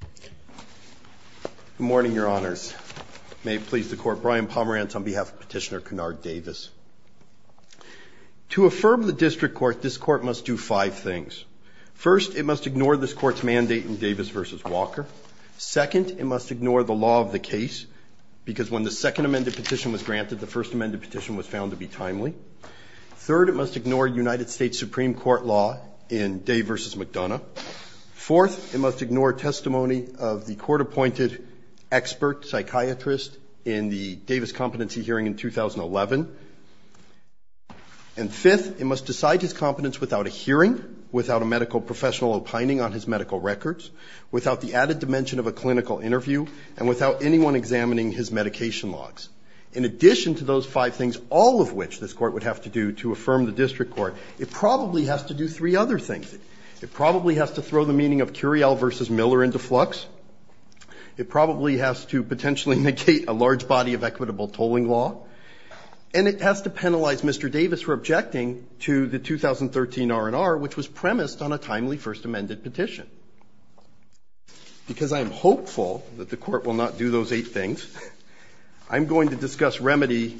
Good morning, Your Honors. May it please the Court, Brian Pomerantz on behalf of Petitioner Kennard Davis. To affirm the District Court, this Court must do five things. First, it must ignore this Court's mandate in Davis v. Walker. Second, it must ignore the law of the case, because when the second amended petition was granted, the first amended petition was found to be timely. Third, it must ignore United States Supreme Court law in Day v. Mrs. McDonough. Fourth, it must ignore testimony of the court-appointed expert psychiatrist in the Davis competency hearing in 2011. And fifth, it must decide his competence without a hearing, without a medical professional opining on his medical records, without the added dimension of a clinical interview, and without anyone examining his medication logs. In addition to those five things, all of which this Court must do, it probably has to throw the meaning of Curiel v. Miller into flux. It probably has to potentially negate a large body of equitable tolling law. And it has to penalize Mr. Davis for objecting to the 2013 R&R, which was premised on a timely first amended petition. Because I am hopeful that the Court will not do those eight things, I'm going to discuss remedy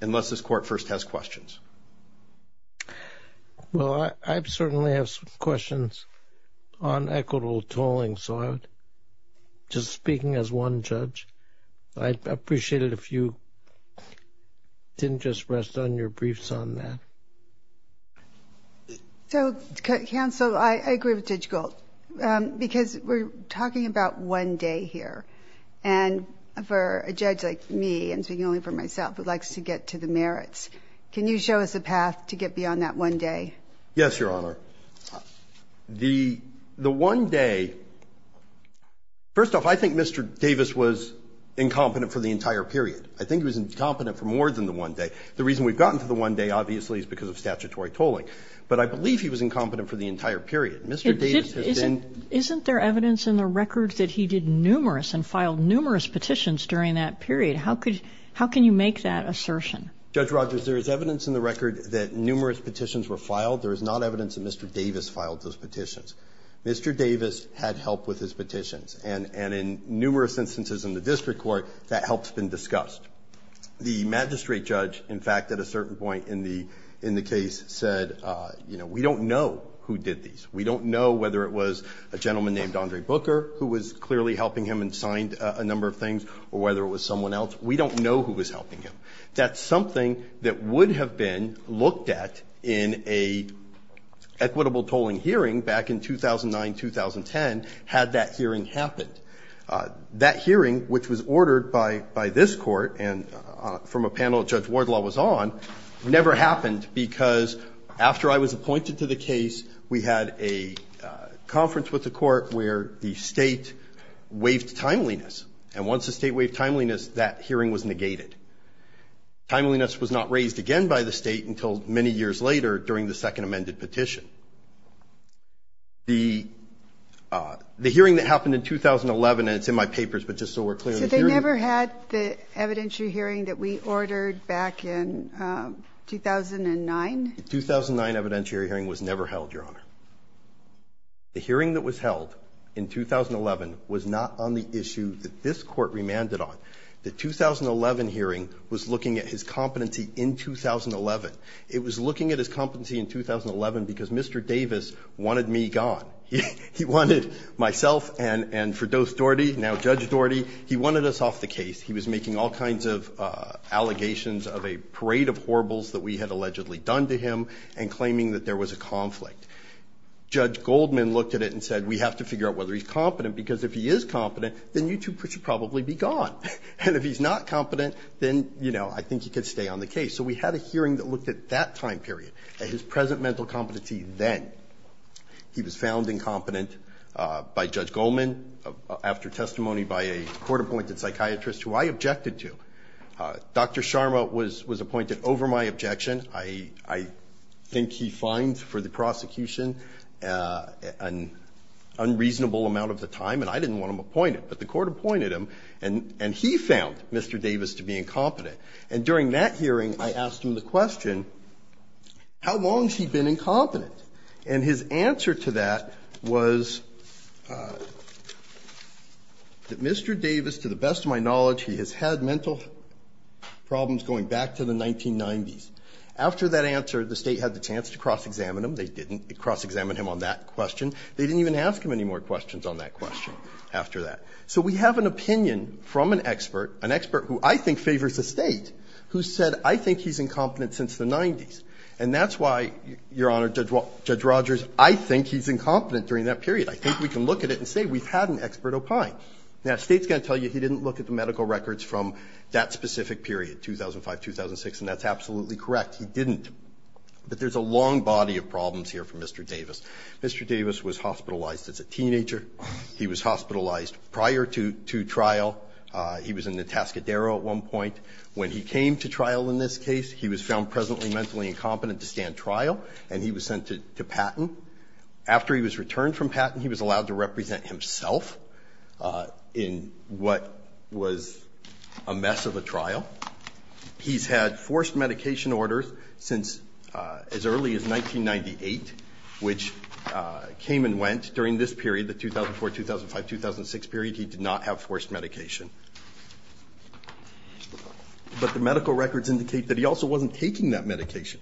unless this Court first has questions. Well, I certainly have some questions on equitable tolling, so I'm just speaking as one judge. I'd appreciate it if you didn't just rest on your briefs on that. So, counsel, I agree with Judge Gould, because we're talking about one day here. And for a judge like me, and speaking only for myself, who likes to get to the merits, can you show us a path to get beyond that one day? Yes, Your Honor. The one day, first off, I think Mr. Davis was incompetent for the entire period. I think he was incompetent for more than the one day. The reason we've gotten to the one day, obviously, is because of statutory tolling. But I believe he was incompetent for the entire period. Mr. Davis has been ---- Isn't there evidence in the records that he did numerous and filed numerous petitions during that period? How could you make that assertion? Judge Rogers, there is evidence in the record that numerous petitions were filed. There is not evidence that Mr. Davis filed those petitions. Mr. Davis had help with his petitions. And in numerous instances in the district court, that help's been discussed. The magistrate judge, in fact, at a certain point in the case, said, you know, we don't know who did these. We don't know whether it was a gentleman named Andre Booker who was clearly helping him and signed a number of things, or whether it was someone else. We don't know who was helping him. That's something that would have been looked at in an equitable tolling hearing back in 2009, 2010, had that hearing happened. That hearing, which was ordered by this court and from a panel that Judge Wardlaw was on, never happened because after I was appointed to the case, we had a conference with the court where the state waived timeliness. And once the state waived timeliness, that hearing was negated. Timeliness was not raised again by the state until many years later during the second amended petition. The hearing that happened in 2011, and it's in my papers, but just so we're clear in the hearing. So they never had the evidentiary hearing that we ordered back in 2009? The 2009 evidentiary hearing was never held, Your Honor. The hearing that was held in 2011 was not on the issue that this Court remanded on. The 2011 hearing was looking at his competency in 2011. It was looking at his competency in 2011 because Mr. Davis wanted me gone. He wanted myself and for Dost Doherty, now Judge Doherty, he wanted us off the case. He was making all kinds of allegations of a parade of horribles that we had allegedly done to him and claiming that there was a conflict. Judge Goldman looked at it and said, we have to figure out whether he's competent because if he is competent, then YouTube should probably be gone. And if he's not competent, then, you know, I think he could stay on the case. So we had a hearing that looked at that time period, at his present mental competency then. He was found incompetent by Judge Goldman after testimony by a court-appointed psychiatrist who I objected to. Dr. Sharma was appointed over my objection. I think he fined for the prosecution an unreasonable amount of the time, and I didn't want him appointed. But the court appointed him, and he found Mr. Davis to be incompetent. And during that hearing, I asked him the question, how long has he been incompetent? And his answer to that was that Mr. Davis, to the best of my knowledge, he has had mental problems going back to the 1990s. After that answer, the State had the chance to cross-examine him. They didn't cross-examine him on that question. They didn't even ask him any more questions on that question after that. So we have an opinion from an expert, an expert who I think favors the State, who said, I think he's incompetent since the 90s. And that's why, Your Honor, Judge Rogers, I think he's incompetent during that period. I think we can look at it and say we've had an expert opine. Now, the State's going to tell you he didn't look at the medical records from that specific period, 2005-2006, and that's absolutely correct. He didn't. But there's a long body of problems here for Mr. Davis. Mr. Davis was hospitalized as a teenager. He was hospitalized prior to trial. He was in the Tascadero at one point. When he came to trial in this case, he was found presently mentally incompetent to stand trial, and he was sent to Patton. After he was returned from Patton, he was allowed to represent himself. In what was a mess of a trial, he's had forced medication orders since as early as 1998, which came and went during this period, the 2004-2005-2006 period, he did not have forced medication. But the medical records indicate that he also wasn't taking that medication.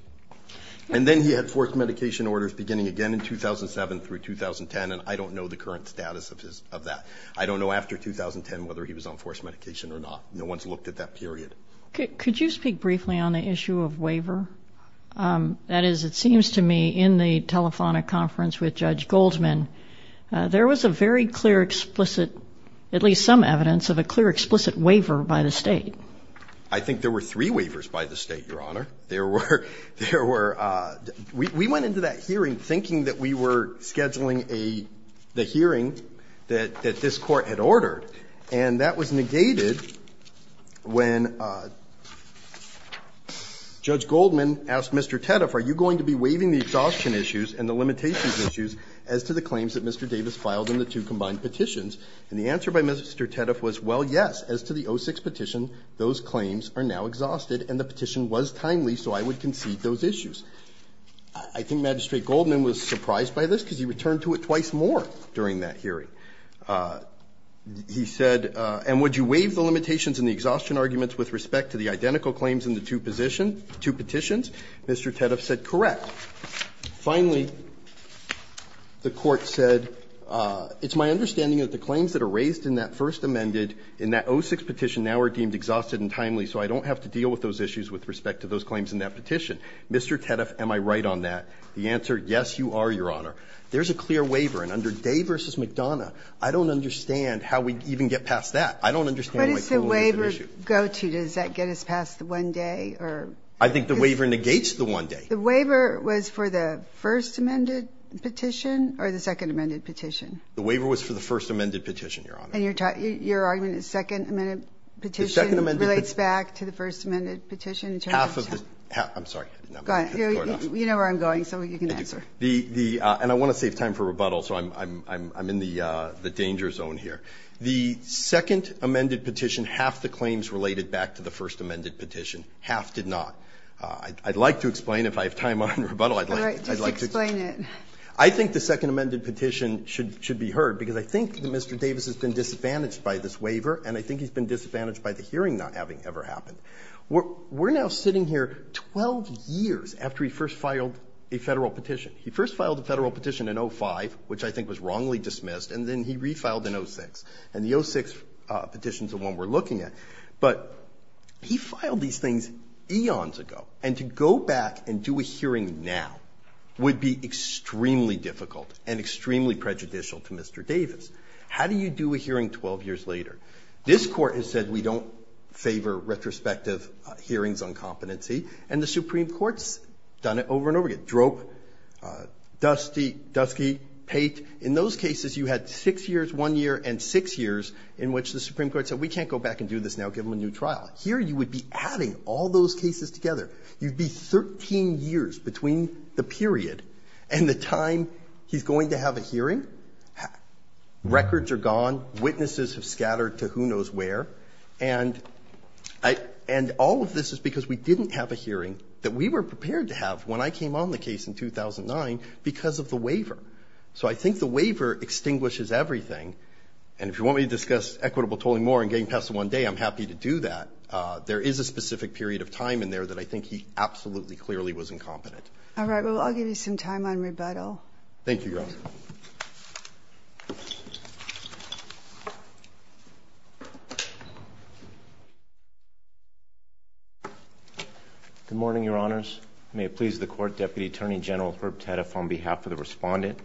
And then he had forced medication orders beginning again in 2007 through 2010, and I don't know the current status of that. I don't know after 2010 whether he was on forced medication or not. No one's looked at that period. Could you speak briefly on the issue of waiver? That is, it seems to me in the telephonic conference with Judge Goldman, there was a very clear, explicit, at least some evidence of a clear, explicit waiver by the State. I think there were three waivers by the State, Your Honor. There were we went into that hearing thinking that we were scheduling the hearing that this Court had ordered, and that was negated when Judge Goldman asked Mr. Teddeff, are you going to be waiving the exhaustion issues and the limitations issues as to the claims that Mr. Davis filed in the two combined petitions? And the answer by Mr. Teddeff was, well, yes, as to the 06 petition, those claims are now exhausted, and the petition was timely, so I would concede those issues. I think Magistrate Goldman was surprised by this because he returned to it twice more during that hearing. He said, and would you waive the limitations and the exhaustion arguments with respect to the identical claims in the two position, two petitions? Mr. Teddeff said, correct. Finally, the Court said, it's my understanding that the claims that are raised in that first amended, in that 06 petition, now are deemed exhausted and timely, so I don't have to deal with those issues with respect to those claims in that petition. Mr. Teddeff, am I right on that? The answer, yes, you are, Your Honor. There's a clear waiver, and under Day v. McDonough, I don't understand how we'd even get past that. I don't understand why too long is an issue. Ginsburg-McDonough What does the waiver go to? Does that get us past the one-day or? Horwich I think the waiver negates the one-day. Ginsburg-McDonough The waiver was for the first amended petition or the second amended petition? Horwich The waiver was for the first amended petition, Your Honor. Ginsburg-McDonough And your argument is second amended petition relates back to the first amended petition? Horwich Half of the, I'm sorry. Ginsburg-McDonough You know where I'm going, so you can answer. Horwich And I want to save time for rebuttal, so I'm in the danger zone here. The second amended petition, half the claims related back to the first amended petition, half did not. I'd like to explain, if I have time on rebuttal, I'd like to explain it. I think the second amended petition should be heard, because I think that Mr. Davis has been disadvantaged by this waiver, and I think he's been disadvantaged by the hearing not having ever happened. We're now sitting here 12 years after he first filed a Federal petition. He first filed a Federal petition in 05, which I think was wrongly dismissed, and then he refiled in 06. And the 06 petition is the one we're looking at. But he filed these things eons ago, and to go back and do a hearing now would be extremely difficult and extremely prejudicial to Mr. Davis. How do you do a hearing 12 years later? This Court has said we don't favor retrospective hearings on competency, and the Supreme Court's done it over and over again. Drope, Dusty, Pate, in those cases you had 6 years, 1 year, and 6 years in which the Supreme Court said we can't go back and do this now, give him a new trial. Here you would be adding all those cases together. You'd be 13 years between the period and the time he's going to have a hearing. Records are gone. Witnesses have scattered to who knows where. And I – and all of this is because we didn't have a hearing that we were prepared to have when I came on the case in 2009 because of the waiver. So I think the waiver extinguishes everything. And if you want me to discuss equitable tolling more and getting past the 1 day, I'm happy to do that. There is a specific period of time in there that I think he absolutely clearly was incompetent. All right. Well, I'll give you some time on rebuttal. Thank you, Your Honor. Good morning, Your Honors. May it please the Court, Deputy Attorney General Herb Tedeff on behalf of the Respondent.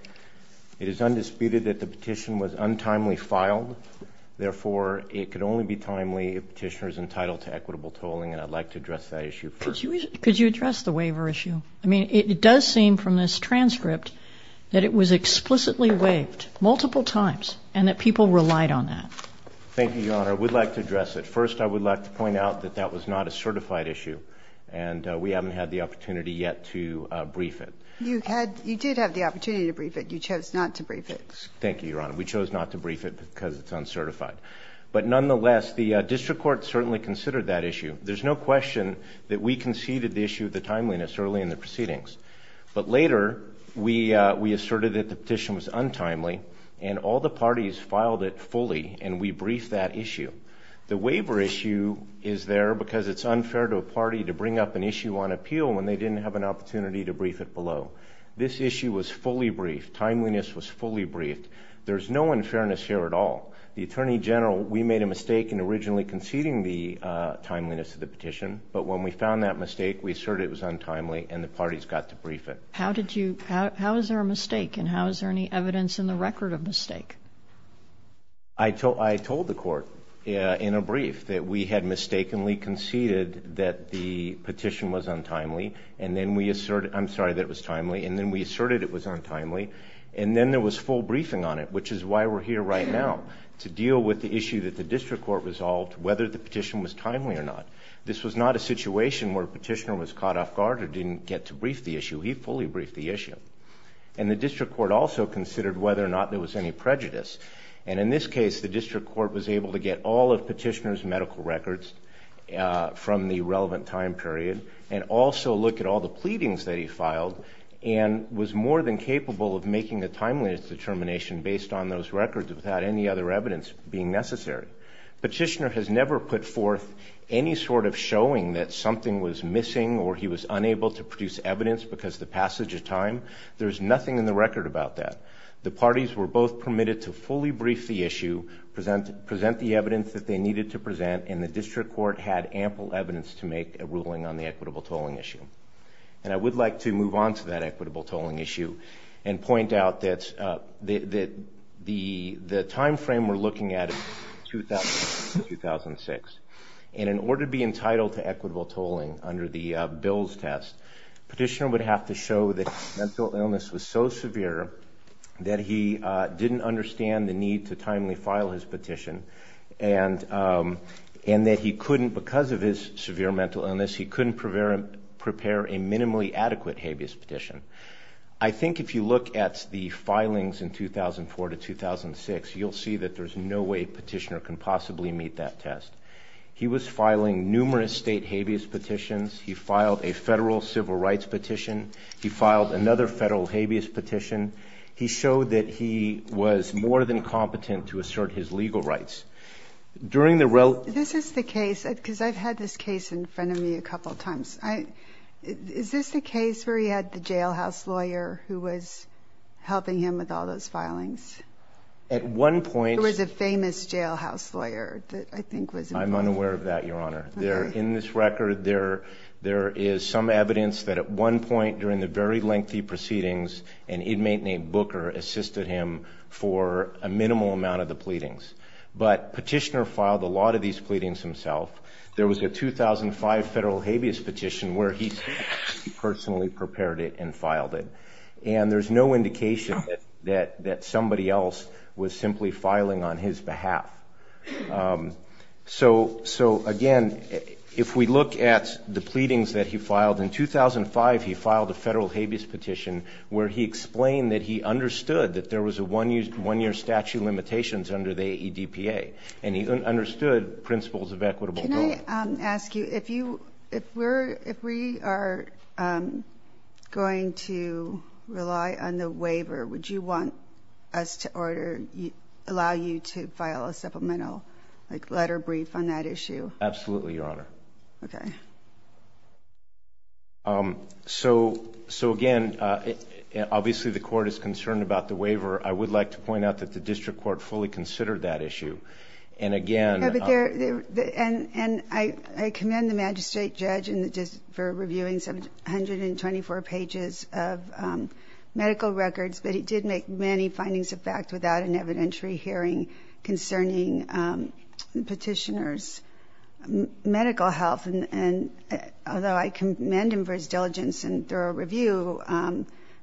It is undisputed that the petition was untimely filed. Therefore, it could only be timely if the petitioner is entitled to equitable tolling, and I'd like to address that issue first. Could you address the waiver issue? I mean, it does seem from this transcript that it was explicitly waived multiple times and that people relied on that. Thank you, Your Honor. I would like to address it. First, I would like to point out that that was not a certified issue, and we haven't had the opportunity yet to brief it. You had – you did have the opportunity to brief it. You chose not to brief it. Thank you, Your Honor. We chose not to brief it because it's uncertified. But nonetheless, the district court certainly considered that issue. There's no question that we conceded the issue of the timeliness early in the proceedings. But later, we asserted that the petition was untimely, and all the parties filed it fully, and we briefed that issue. The waiver issue is there because it's unfair to a party to bring up an issue on appeal when they didn't have an opportunity to brief it below. This issue was fully briefed. Timeliness was fully briefed. There's no unfairness here at all. The Attorney General – we made a mistake in originally conceding the timeliness of the petition, but when we found that mistake, we asserted it was untimely, and the parties got to brief it. How did you – how is there a mistake, and how is there any evidence in the record of mistake? I told the court in a brief that we had mistakenly conceded that the petition was untimely, and then we asserted – I'm sorry, that it was timely, and then we asserted it was untimely. And then there was full briefing on it, which is why we're here right now, to deal with the issue that the district court resolved, whether the petition was timely or not. This was not a situation where a petitioner was caught off guard or didn't get to brief the issue. He fully briefed the issue. And the district court also considered whether or not there was any prejudice. And in this case, the district court was able to get all of Petitioner's medical records from the relevant time period, and also look at all the pleadings that he filed, and was more than capable of making a timeliness determination based on those records without any other evidence being necessary. Petitioner has never put forth any sort of showing that something was missing or he was unable to produce evidence because of the passage of time. There's nothing in the record about that. The parties were both permitted to fully brief the issue, present the evidence that they needed to present, and the district court had ample evidence to make a ruling on the equitable tolling issue. And I would like to move on to that equitable tolling issue and point out that the time frame we're looking at is 2006. And in order to be entitled to equitable tolling under the Bills test, Petitioner would have to show that his mental illness was so severe that he didn't understand the need to timely file his petition, and that he couldn't, because of his severe mental illness, he couldn't prepare a minimally adequate habeas petition. I think if you look at the filings in 2004 to 2006, you'll see that there's no way Petitioner can possibly meet that test. He was filing numerous state habeas petitions. He filed a federal civil rights petition. He filed another federal habeas petition. He showed that he was more than competent to assert his legal rights. During the rel- This is the case, because I've had this case in front of me a couple of times. Is this the case where he had the jailhouse lawyer who was helping him with all those filings? At one point- There was a famous jailhouse lawyer that I think was- I'm unaware of that, Your Honor. There, in this record, there is some evidence that at one point during the very lengthy proceedings, an inmate named Booker assisted him for a minimal amount of the pleadings. But Petitioner filed a lot of these pleadings himself. There was a 2005 federal habeas petition where he personally prepared it and filed it. And there's no indication that somebody else was simply filing on his behalf. So again, if we look at the pleadings that he filed, in 2005 he filed a federal habeas petition where he explained that he understood that there was a one-year statute of limitations under the ADPA. And he understood principles of equitable- Can I ask you, if we are going to rely on the waiver, would you want us to order, allow you to file a supplemental letter of brief on that issue? Absolutely, Your Honor. Okay. So again, obviously the court is concerned about the waiver. I would like to point out that the district court fully considered that issue. And again- And I commend the magistrate judge for reviewing 124 pages of medical records. But he did make many findings of fact without an evidentiary hearing concerning Petitioner's medical health. And although I commend him for his diligence and thorough review,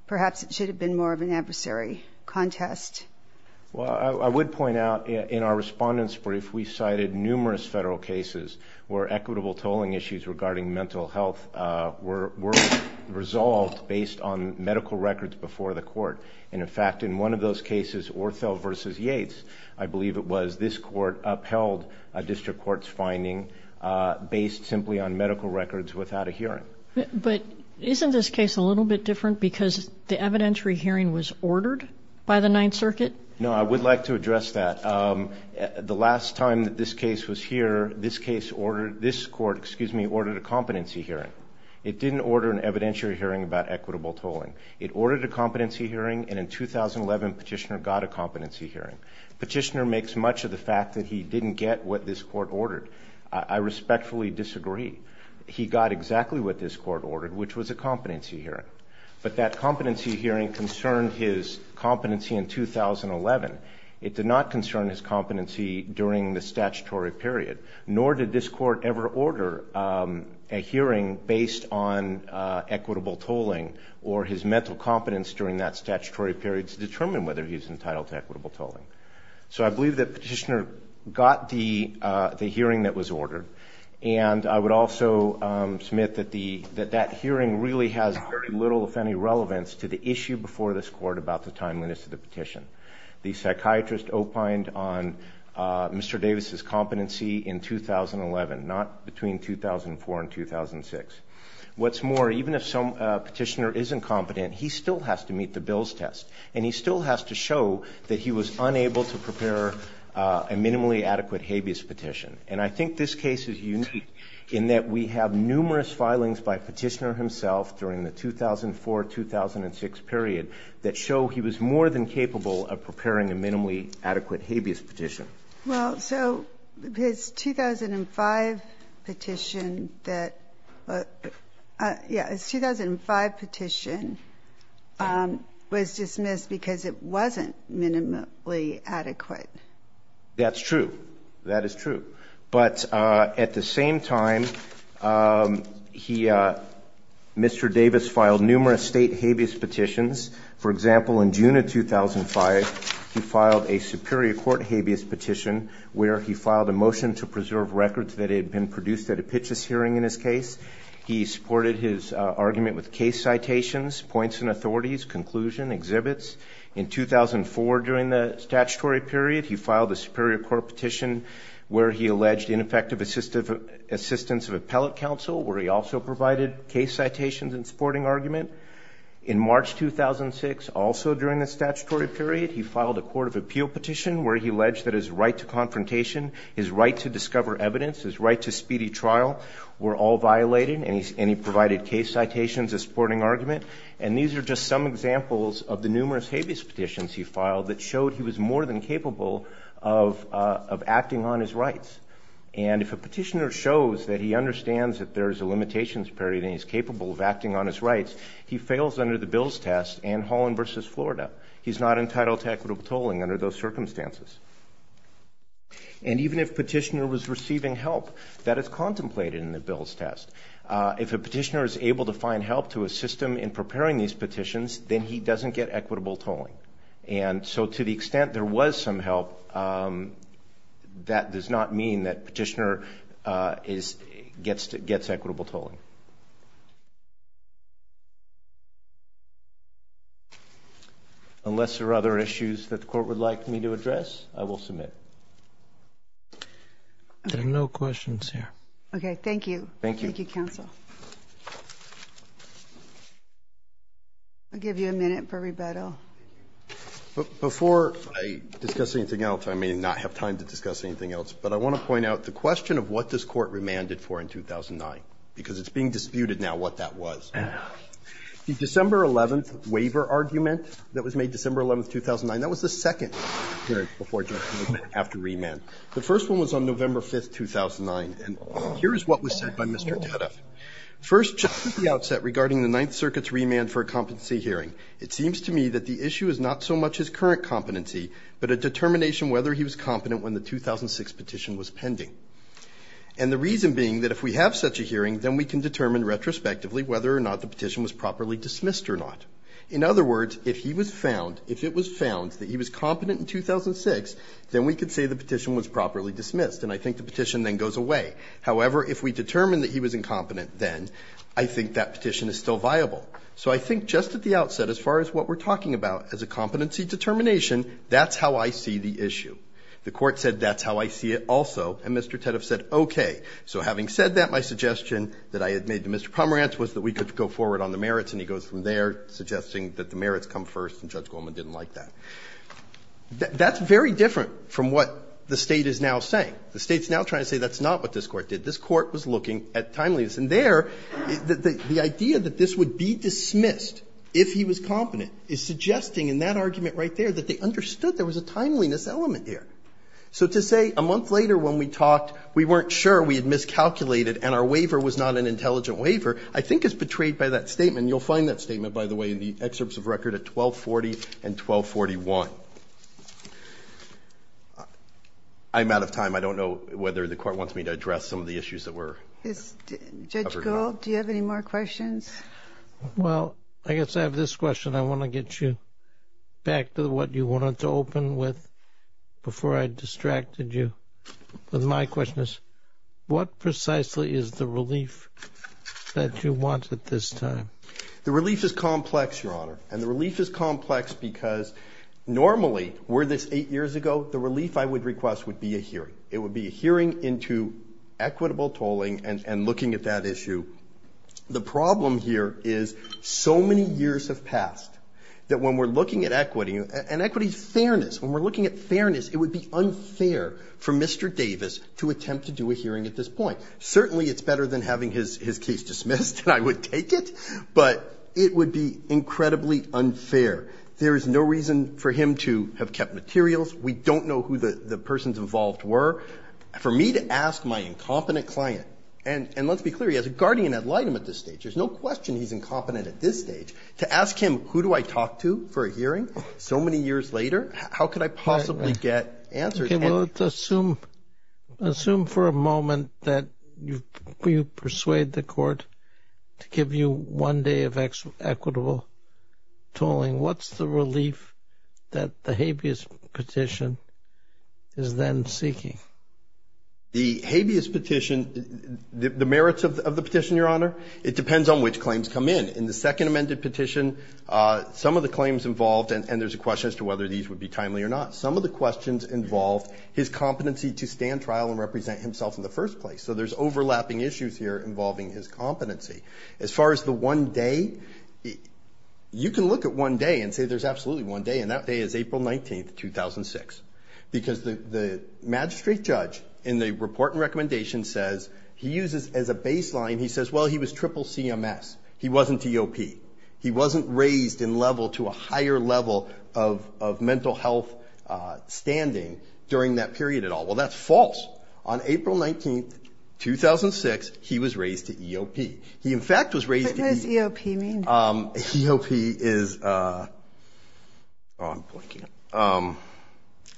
perhaps it should have been more of an adversary contest. Well, I would point out in our respondent's brief, we cited numerous federal cases where equitable tolling issues regarding mental health were resolved based on medical records before the court. And in fact, in one of those cases, Ortho v. Yates, I believe it was, this court upheld a district court's finding based simply on medical records without a hearing. But isn't this case a little bit different because the evidentiary hearing was ordered by the Ninth Circuit? No, I would like to address that. The last time that this case was here, this court ordered a competency hearing. It didn't order an evidentiary hearing about equitable tolling. It ordered a competency hearing, and in 2011, Petitioner got a competency hearing. Petitioner makes much of the fact that he didn't get what this court ordered. I respectfully disagree. He got exactly what this court ordered, which was a competency hearing. But that competency hearing concerned his competency in 2011. It did not concern his competency during the statutory period, nor did this court ever order a hearing based on equitable tolling or his mental competence during that statutory period to determine whether he's entitled to equitable tolling. So I believe that Petitioner got the hearing that was ordered, and I would also submit that that hearing really has very little, if any, relevance to the issue before this court about the timeliness of the petition. The psychiatrist opined on Mr. Davis's competency in 2011, not between 2004 and 2006. What's more, even if Petitioner isn't competent, he still has to meet the Bill's test, and he still has to show that he was unable to prepare a minimally adequate habeas petition. And I think this case is unique in that we have numerous filings by Petitioner himself during the 2004-2006 period that show he was more than capable of preparing a minimally adequate habeas petition. Well, so his 2005 petition that was dismissed because it wasn't minimally adequate. That's true. That is true. But at the same time, Mr. Davis filed numerous state habeas petitions. For example, in June of 2005, he filed a Superior Court habeas petition where he filed a motion to preserve records that had been produced at a Pitchess hearing in his case. He supported his argument with case citations, points and authorities, conclusion, exhibits. In 2004, during the statutory period, he filed a Superior Court petition where he alleged ineffective assistance of appellate counsel, where he also provided case citations and supporting argument. In March 2006, also during the statutory period, he filed a Court of Appeal petition where he alleged that his right to confrontation, his right to discover evidence, his right to speedy trial were all violated, and he provided case citations as supporting argument. And these are just some examples of the numerous habeas petitions he filed that showed he was more than capable of acting on his rights. And if a petitioner shows that he understands that there's a limitations period and he's capable of acting on his rights, he fails under the Bill's test and Holland v. Florida. He's not entitled to equitable tolling under those circumstances. And even if petitioner was receiving help that is contemplated in the Bill's test, if a petitioner is able to find help to assist him in preparing these petitions, then he doesn't get equitable tolling. And so to the extent there was some help, that does not mean that petitioner gets equitable tolling. Unless there are other issues that the court would like me to address, I will submit. There are no questions here. Okay. Thank you. Thank you. Thank you, counsel. I'll give you a minute for rebuttal. Before I discuss anything else, I may not have time to discuss anything else, but I want to point out the question of what this Court remanded for in 2009, because it's being disputed now what that was. The December 11th waiver argument that was made December 11th, 2009, that was the second hearing before judgment after remand. The first one was on November 5th, 2009, and here is what was said by Mr. Taddeff. First, just at the outset regarding the Ninth Circuit's remand for a competency hearing, it seems to me that the issue is not so much his current competency, but a determination whether he was competent when the 2006 petition was pending. And the reason being that if we have such a hearing, then we can determine retrospectively whether or not the petition was properly dismissed or not. In other words, if he was found, if it was found that he was competent in 2006, then we could say the petition was properly dismissed, and I think the petition then goes away. However, if we determine that he was incompetent then, I think that petition is still viable. So I think just at the outset, as far as what we're talking about as a competency determination, that's how I see the issue. The Court said that's how I see it also, and Mr. Taddeff said, okay. So having said that, my suggestion that I had made to Mr. Pomerantz was that we could go forward on the merits, and he goes from there suggesting that the merits come first, and Judge Goldman didn't like that. That's very different from what the State is now saying. The State's now trying to say that's not what this Court did. This Court was looking at timeliness. And there, the idea that this would be dismissed if he was competent is suggesting in that argument right there that they understood there was a timeliness element there. So to say a month later when we talked, we weren't sure, we had miscalculated, and our waiver was not an intelligent waiver, I think is betrayed by that statement. You'll find that statement, by the way, in the excerpts of record at 1240 and 1241. I'm out of time. I don't know whether the Court wants me to address some of the issues that were raised. Judge Gould, do you have any more questions? Well, I guess I have this question. I want to get you back to what you wanted to open with before I distracted you. My question is, what precisely is the relief that you want at this time? The relief is complex, Your Honor, and the relief is complex because normally were this eight years ago, the relief I would request would be a hearing. It would be a hearing into equitable tolling and looking at that issue. The problem here is so many years have passed that when we're looking at equity, and equity is fairness, when we're looking at fairness, it would be unfair for Mr. Davis to attempt to do a hearing at this point. Certainly, it's better than having his case dismissed, and I would take it, but it would be incredibly unfair. There is no reason for him to have kept materials. We don't know who the persons involved were. For me to ask my incompetent client, and let's be clear, he has a guardian ad litem at this stage. There's no question he's incompetent at this stage. To ask him, who do I talk to for a hearing so many years later? How could I possibly get answers? Okay, well, let's assume for a moment that you persuade the Court to give you one day of equitable tolling, what's the relief that the habeas petition is then seeking? The habeas petition, the merits of the petition, Your Honor, it depends on which claims come in. In the second amended petition, some of the claims involved, and there's a question as to whether these would be timely or not. Some of the questions involve his competency to stand trial and represent himself in the first place. So there's overlapping issues here involving his competency. As far as the one day, you can look at one day and say there's absolutely one day, and that day is April 19th, 2006, because the magistrate judge in the report and recommendation says, he uses as a baseline, he says, well, he was triple CMS. He wasn't EOP. He wasn't raised in level to a higher level of mental health standing during that period at all. Well, that's false. On April 19th, 2006, he was raised to EOP. He, in fact, was raised to EOP. What does EOP mean? EOP is, oh, I'm blanking.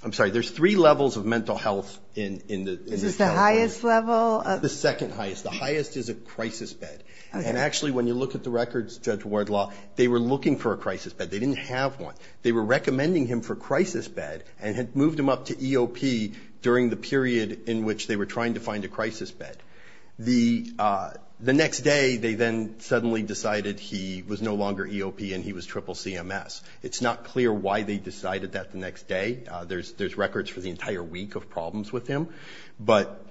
I'm sorry. There's three levels of mental health in the. Is this the highest level? The second highest. The highest is a crisis bed. And actually, when you look at the records, Judge Wardlaw, they were looking for a crisis bed. They didn't have one. They were recommending him for crisis bed and had moved him up to EOP during the period in which they were trying to find a crisis bed. The next day, they then suddenly decided he was no longer EOP and he was triple CMS. It's not clear why they decided that the next day. There's records for the entire week of problems with him. But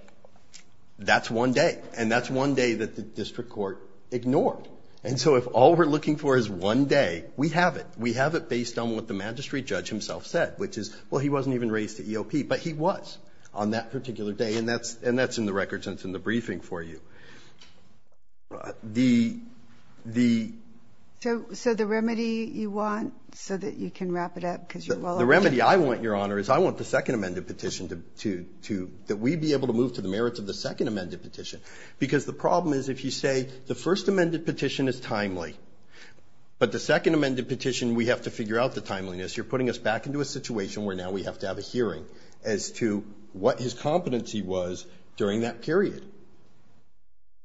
that's one day. And that's one day that the district court ignored. And so if all we're looking for is one day, we have it. We have it based on what the magistrate judge himself said, which is, well, he wasn't even raised to EOP. But he was on that particular day. And that's in the records and it's in the briefing for you. So the remedy you want, so that you can wrap it up because you're well aware of it. The remedy I want, Your Honor, is I want the second amended petition to, that we'd be able to move to the merits of the second amended petition. Because the problem is, if you say the first amended petition is timely, but the second amended petition, we have to figure out the timeliness, you're putting us back into a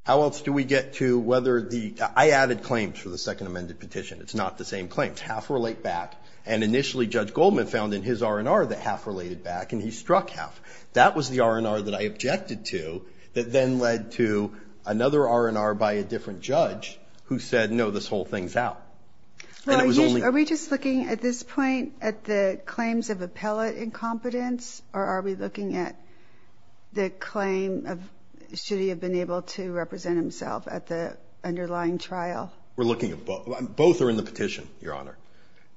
How else do we get to whether the, I added claims for the second amended petition. It's not the same claims. Half relate back. And initially, Judge Goldman found in his R&R that half related back and he struck half. That was the R&R that I objected to that then led to another R&R by a different judge who said, no, this whole thing's out. And it was only- Are we just looking at this point at the claims of appellate incompetence? Or are we looking at the claim of, should he have been able to represent himself at the underlying trial? We're looking at both, both are in the petition, Your Honor.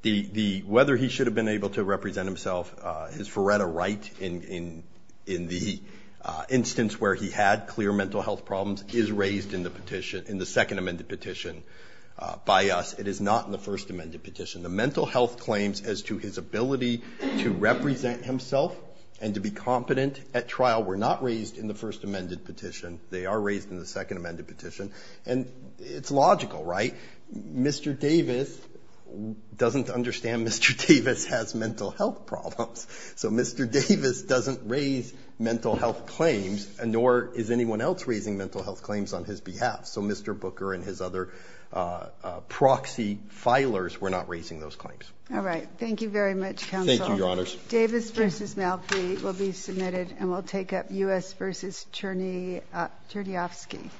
The, the, whether he should have been able to represent himself, his veretta right in, in, in the instance where he had clear mental health problems is raised in the petition, in the second amended petition by us. It is not in the first amended petition. The mental health claims as to his ability to represent himself and to be competent at trial were not raised in the first amended petition. They are raised in the second amended petition and it's logical, right? Mr. Davis doesn't understand Mr. Davis has mental health problems. So Mr. Davis doesn't raise mental health claims and nor is anyone else raising mental health claims on his behalf. So Mr. Booker and his other proxy filers were not raising those claims. All right. Thank you very much, counsel. Thank you, Your Honors. Davis v. Malfi will be submitted and we'll take up U.S. v. Cherny, Chernyovsky.